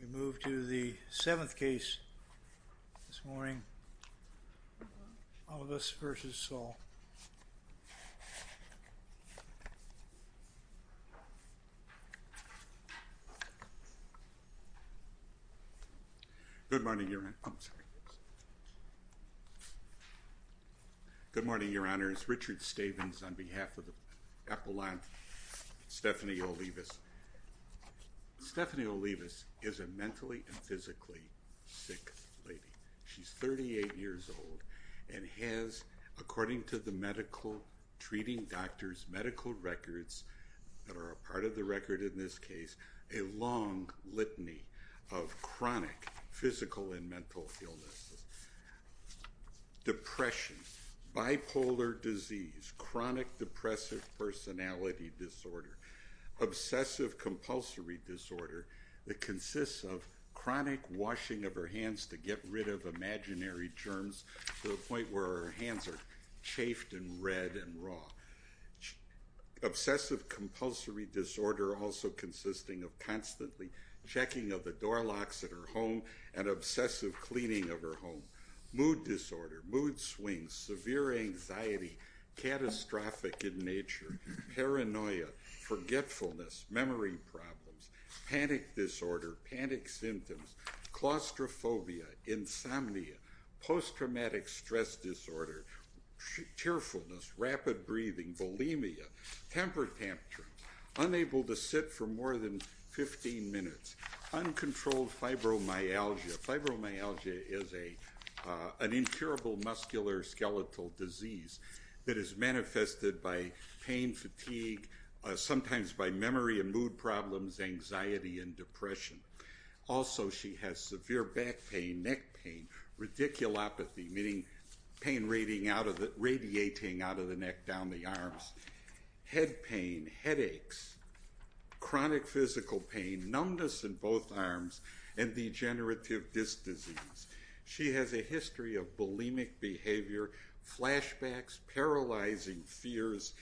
We move to the seventh case this morning, Olivas v. Saul. Good morning, Your Honor. Good morning, Your Honors. Richard Stavins on behalf of the Appalachian, Stephanie Olivas. Stephanie Olivas is a mentally and physically sick lady. She's 38 years old and has, according to the medical, treating doctors' medical records, that are a part of the record in this case, a long litany of chronic physical and mental illnesses. Depression, bipolar disease, chronic depressive personality disorder, obsessive compulsory disorder that consists of chronic washing of her hands to get rid of imaginary germs to a point where her hands are chafed and red and raw. Obsessive compulsory disorder also consisting of constantly checking of the door locks at her home and obsessive cleaning of her home. Mood disorder, mood swings, severe anxiety, catastrophic in nature, paranoia, forgetfulness, memory problems, panic disorder, panic symptoms, claustrophobia, insomnia, post-traumatic stress disorder, tearfulness, rapid breathing, bulimia, temper tantrums, unable to sit for more than 15 minutes, uncontrolled fibromyalgia. Fibromyalgia is an incurable muscular skeletal disease that is manifested by pain, fatigue, sometimes by memory and mood problems, anxiety and depression. Also she has severe back pain, neck pain, radiculopathy, meaning pain radiating out of the neck down the arms, head pain, headaches, chronic physical pain, numbness in both arms and degenerative disc disease. She has a history of bulimic behavior, flashbacks, paralyzing fears.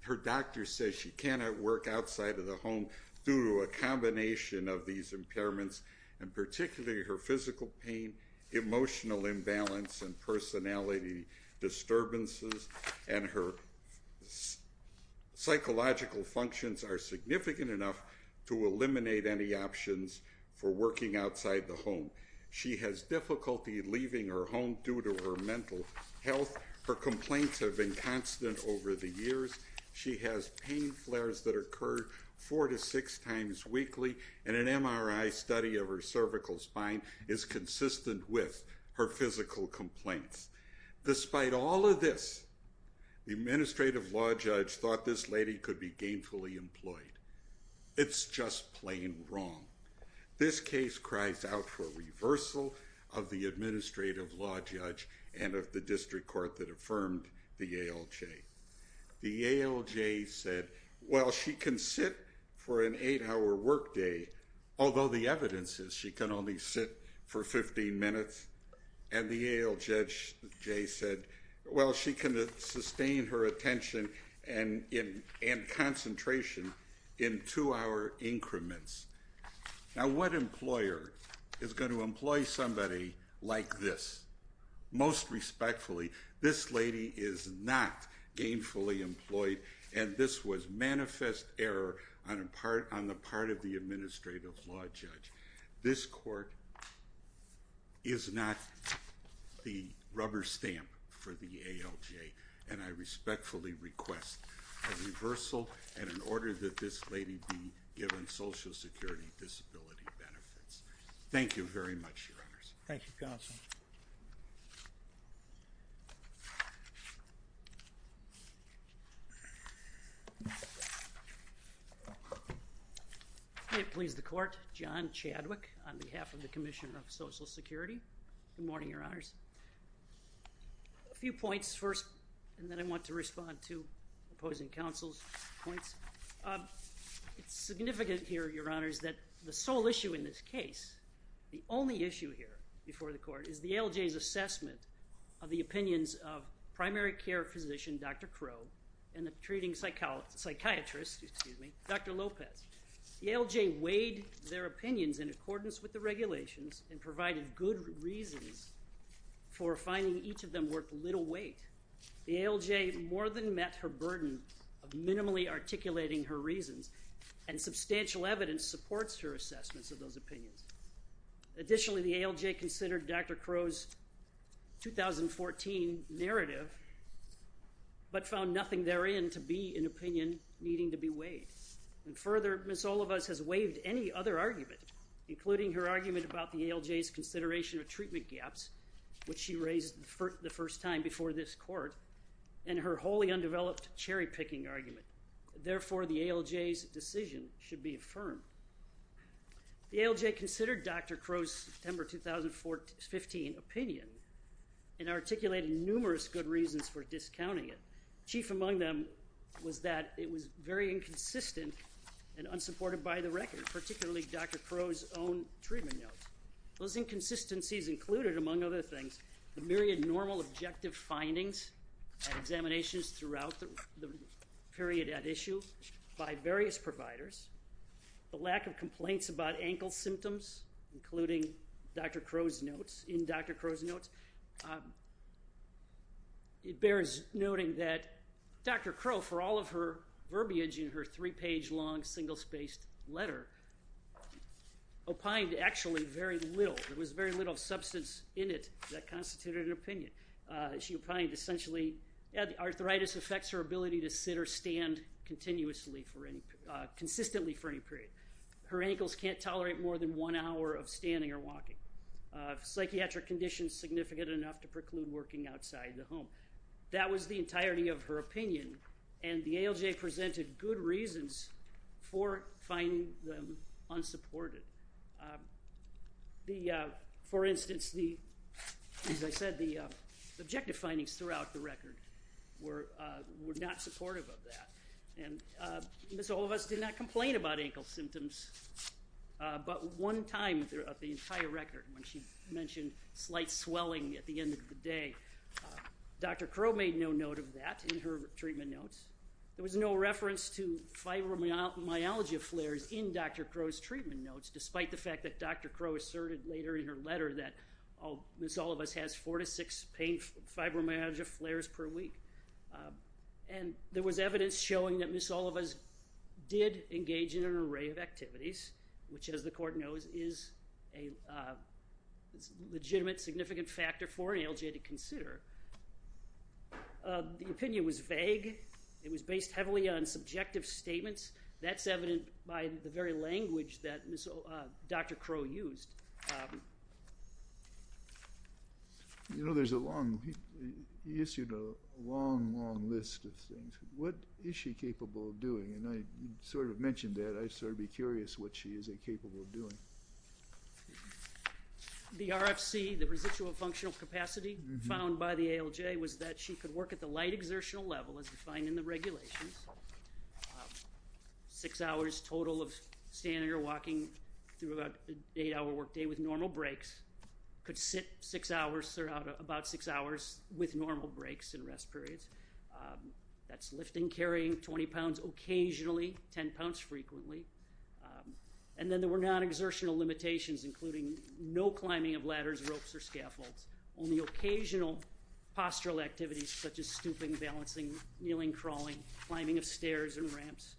Her doctor says she cannot work outside of the home due to a combination of these impairments and particularly her physical pain, emotional imbalance and personality disturbances and her psychological functions are significant enough to eliminate any options for working outside the home. She has difficulty leaving her home due to her mental health. Her complaints have been constant over the years. She has pain flares that occur four to six times weekly and an MRI study of her cervical spine is consistent with her physical complaints. Despite all of this, the administrative law judge thought this lady could be gainfully employed. It's just plain wrong. This case cries out for reversal of the administrative law judge and of the district court that affirmed the ALJ. The ALJ said, well, she can sit for an eight-hour workday, although the evidence is she can only sit for 15 minutes and the ALJ said, well, she can sustain her attention and concentration in two-hour increments. Now, what employer is gonna employ somebody like this? Most respectfully, this lady is not gainfully employed and this was manifest error on the part of the administrative law judge. This court is not the rubber stamp for the ALJ and I respectfully request a reversal and an order that this lady be given social security disability benefits. Thank you very much, your honors. Thank you, counsel. May it please the court, John Chadwick on behalf of the Commission of Social Security. Good morning, your honors. A few points first and then I want to respond to opposing counsel's points. It's significant here, your honors, that the sole issue in this case, the only issue here before the court is the ALJ's assessment of the opinions of primary care physician, Dr. Crow and the treating psychiatrist, excuse me, Dr. Lopez. The ALJ weighed their opinions in accordance with the regulations and provided good reasons for finding each of them worth little weight. The ALJ more than met her burden of minimally articulating her reasons and substantial evidence supports her assessments of those opinions. Additionally, the ALJ considered Dr. Crow's 2014 narrative but found nothing therein to be an opinion needing to be weighed. And further, Ms. Olivas has waived any other argument, including her argument about the ALJ's consideration of treatment gaps, which she raised the first time before this court, and her wholly undeveloped cherry-picking argument. Therefore, the ALJ's decision should be affirmed. The ALJ considered Dr. Crow's September 2015 opinion and articulated numerous good reasons for discounting it. Chief among them was that it was very inconsistent and unsupported by the record, particularly Dr. Crow's own treatment notes. Those inconsistencies included, among other things, the myriad normal objective findings and examinations throughout the period at issue by various providers, the lack of complaints about ankle symptoms, including Dr. Crow's notes, in Dr. Crow's notes. It bears noting that Dr. Crow, for all of her verbiage in her three-page-long, single-spaced letter, opined actually very little. There was very little substance in it that constituted an opinion. She opined, essentially, arthritis affects her ability to sit or stand consistently for any period. Her ankles can't tolerate more than one hour of standing or walking. Psychiatric conditions significant enough to preclude working outside the home. That was the entirety of her opinion, and the ALJ presented good reasons for finding them unsupported. For instance, as I said, the objective findings throughout the record were not supportive of that. And Ms. Olivas did not complain about ankle symptoms, but one time throughout the entire record, when she mentioned slight swelling at the end of the day, Dr. Crow made no note of that in her treatment notes. There was no reference to fibromyalgia flares in Dr. Crow's treatment notes, despite the fact that Dr. Crow asserted later in her letter that Ms. Olivas has four to six pain, fibromyalgia flares per week. And there was evidence showing that Ms. Olivas did engage in an array of activities, which as the court knows is a legitimate, significant factor for an ALJ to consider. The opinion was vague. It was based heavily on subjective statements. That's evident by the very language that Dr. Crow used. You know, there's a long, he issued a long, long list of things. What is she capable of doing? And I sort of mentioned that, I'd sort of be curious what she is incapable of doing. The RFC, the residual functional capacity found by the ALJ was that she could work at the light exertional level as defined in the regulations. Six hours total of standing or walking through about eight hour workday. Workday with normal breaks. Could sit six hours, about six hours with normal breaks and rest periods. That's lifting, carrying 20 pounds occasionally, 10 pounds frequently. And then there were non-exertional limitations including no climbing of ladders, ropes or scaffolds. Only occasional postural activities such as stooping, balancing, kneeling, crawling, climbing of stairs and ramps.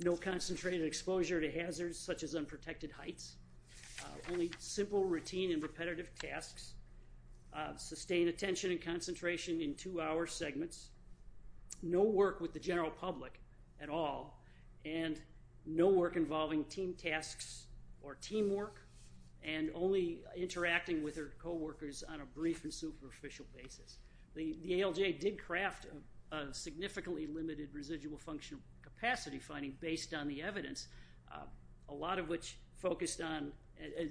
No concentrated exposure to hazards such as unprotected heights. Only simple routine and repetitive tasks. Sustained attention and concentration in two hour segments. No work with the general public at all. And no work involving team tasks or teamwork. And only interacting with her coworkers on a brief and superficial basis. The ALJ did craft a significantly limited residual functional capacity finding based on the evidence. A lot of which focused on,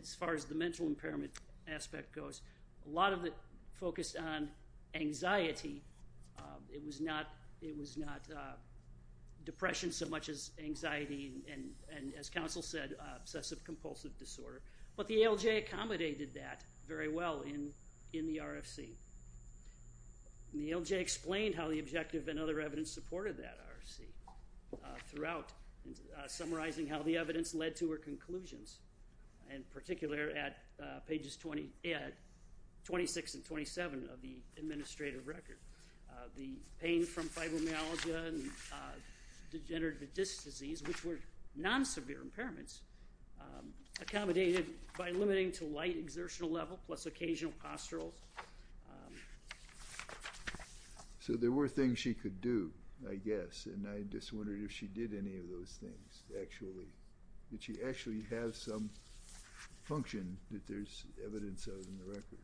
as far as the mental impairment aspect goes, a lot of it focused on anxiety. It was not depression so much as anxiety and as counsel said, obsessive compulsive disorder. But the ALJ accommodated that very well in the RFC. The ALJ explained how the objective and other evidence supported that RFC throughout summarizing how the evidence led to her conclusions. In particular at pages 26 and 27 of the administrative record. The pain from fibromyalgia and degenerative disc disease which were non-severe impairments accommodated by limiting to light exertional level plus occasional posturals. So there were things she could do, I guess. And I just wondered if she did any of those things actually. Did she actually have some function that there's evidence of in the record?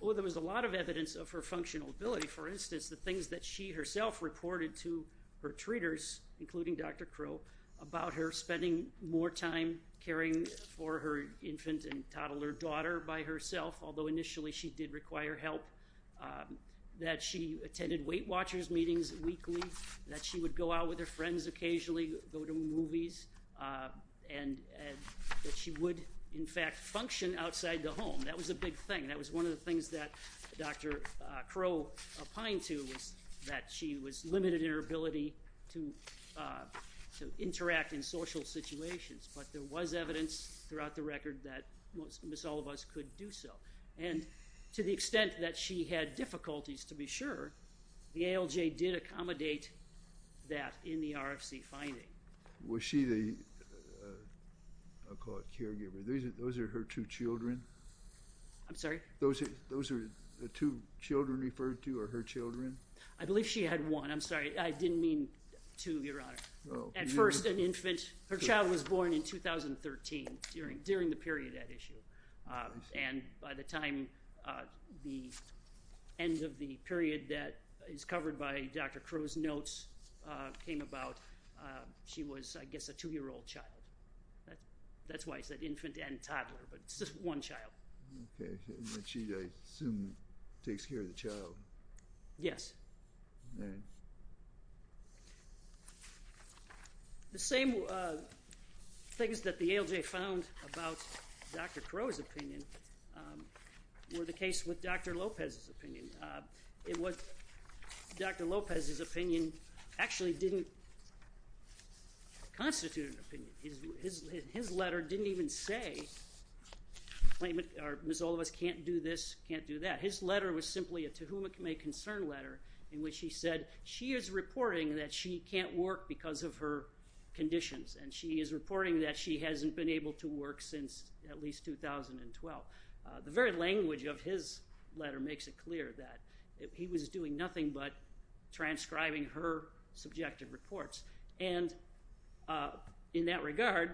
Oh, there was a lot of evidence of her functional ability. For instance, the things that she herself reported to her treaters, including Dr. Crow, about her spending more time caring for her infant and toddler daughter by herself. Although initially she did require help. That she attended Weight Watchers meetings weekly. That she would go out with her friends occasionally, go to movies. And that she would, in fact, function outside the home. That was a big thing. That was one of the things that Dr. Crow opined to was that she was limited in her ability to interact in social situations. But there was evidence throughout the record that Miss Olivas could do so. And to the extent that she had difficulties, to be sure, the ALJ did accommodate that in the RFC finding. Was she the, I'll call it caregiver. Those are her two children? I'm sorry? Those are the two children referred to are her children? I believe she had one, I'm sorry. I didn't mean two, Your Honor. At first an infant. Her child was born in 2013, during the period at issue. And by the time the end of the period that is covered by Dr. Crow's notes came about, she was, I guess, a two-year-old child. That's why I said infant and toddler, but it's just one child. Okay, and then she, I assume, takes care of the child. Yes. All right. The same things that the ALJ found about Dr. Crow's opinion were the case with Dr. Lopez's opinion. It was Dr. Lopez's opinion actually didn't constitute an opinion. His letter didn't even say, or Miss Olivas can't do this, can't do that. His letter was simply a to whom it may concern letter in which he said she is reporting that she can't work because of her conditions and she is reporting that she hasn't been able to work since at least 2012. The very language of his letter makes it clear that he was doing nothing but transcribing her subjective reports. And in that regard,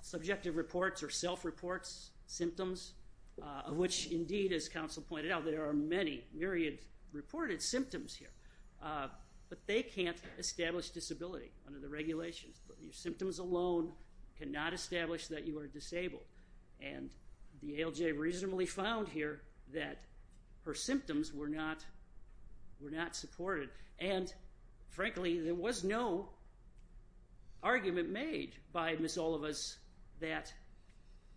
subjective reports or self-reports symptoms of which indeed, as counsel pointed out, there are many myriad reported symptoms here, but they can't establish disability under the regulations. Your symptoms alone cannot establish that you are disabled. And the ALJ reasonably found here that her symptoms were not supported. And frankly, there was no argument made by Miss Olivas that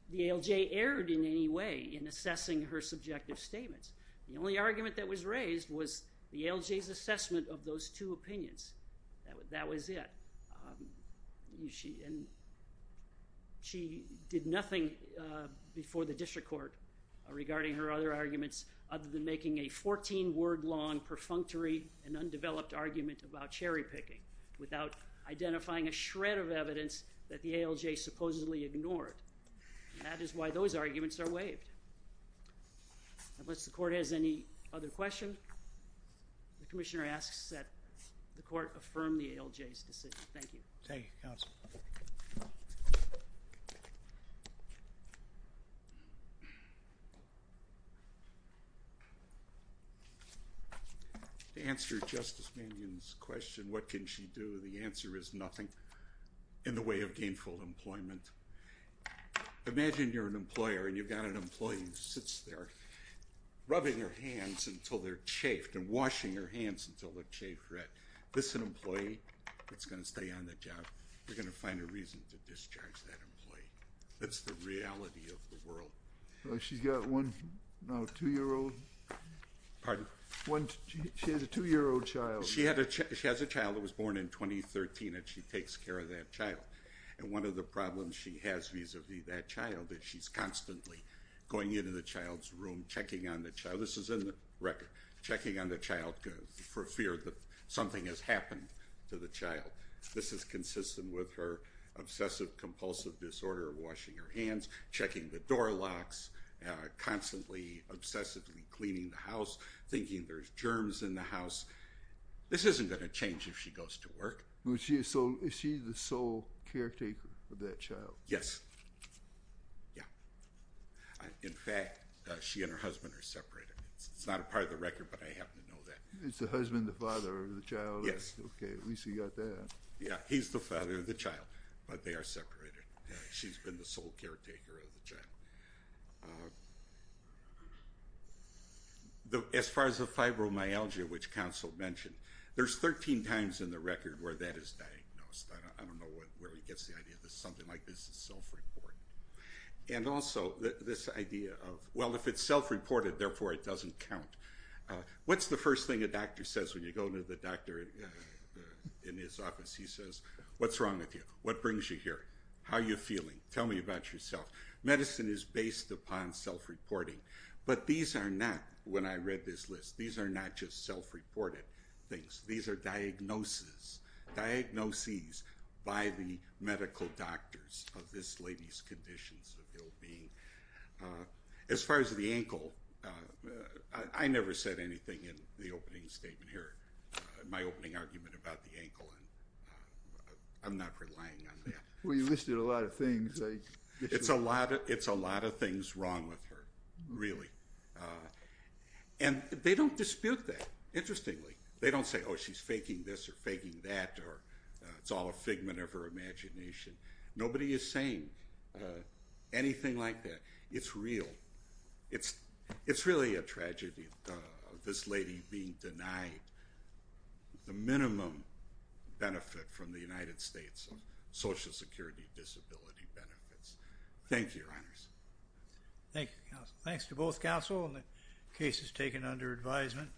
the ALJ erred in any way in assessing her subjective statements. The only argument that was raised was the ALJ's assessment of those two opinions. That was it. She did nothing before the district court regarding her other arguments other than making a 14 word long perfunctory and undeveloped argument about cherry picking without identifying a shred of evidence that the ALJ supposedly ignored. That is why those arguments are waived. Unless the court has any other question, the commissioner asks that the court affirm the ALJ's decision. Thank you. Thank you, counsel. To answer Justice Mannion's question, what can she do? The answer is nothing in the way of gainful employment. Imagine you're an employer and you've got an employee who sits there rubbing her hands until they're chafed and washing her hands until they're chafed red. This is an employee that's gonna stay on the job. You're gonna find a reason to discharge that employee. That's the reality of the world. She's got one, no, two year old. Pardon? One, she has a two year old child. She has a child that was born in 2013 and she takes care of that child. And one of the problems she has vis-a-vis that child is she's constantly going into the child's room, checking on the child. This is in the record. Checking on the child for fear that something has happened to the child. This is consistent with her obsessive compulsive disorder, washing her hands, checking the door locks, constantly obsessively cleaning the house, thinking there's germs in the house. This isn't gonna change if she goes to work. Is she the sole caretaker of that child? Yes. Yeah. In fact, she and her husband are separated. It's not a part of the record, but I happen to know that. Is the husband the father of the child? Yes. Okay, at least we got that. Yeah, he's the father of the child, but they are separated. She's been the sole caretaker of the child. As far as the fibromyalgia, which counsel mentioned, there's 13 times in the record where that is diagnosed. I don't know where he gets the idea that something like this is self-reported. And also, this idea of, well, if it's self-reported, therefore it doesn't count. What's the first thing a doctor says when you go to the doctor in his office? He says, what's wrong with you? What brings you here? How are you feeling? Tell me about yourself. Medicine is based upon self-reporting, but these are not, when I read this list, these are not just self-reported things. These are diagnoses, diagnoses by the medical doctors of this lady's conditions of ill-being. As far as the ankle, I never said anything in the opening statement here, my opening argument about the ankle, and I'm not relying on that. Well, you listed a lot of things. It's a lot of things wrong with her, really. And they don't dispute that, interestingly. They don't say, oh, she's faking this or faking that, or it's all a figment of her imagination. Nobody is saying anything like that. It's real. It's really a tragedy, this lady being denied the minimum benefit from the United States of Social Security disability benefits. Thank you, your honors. Thank you, counsel. Thanks to both counsel and the cases taken under advisement.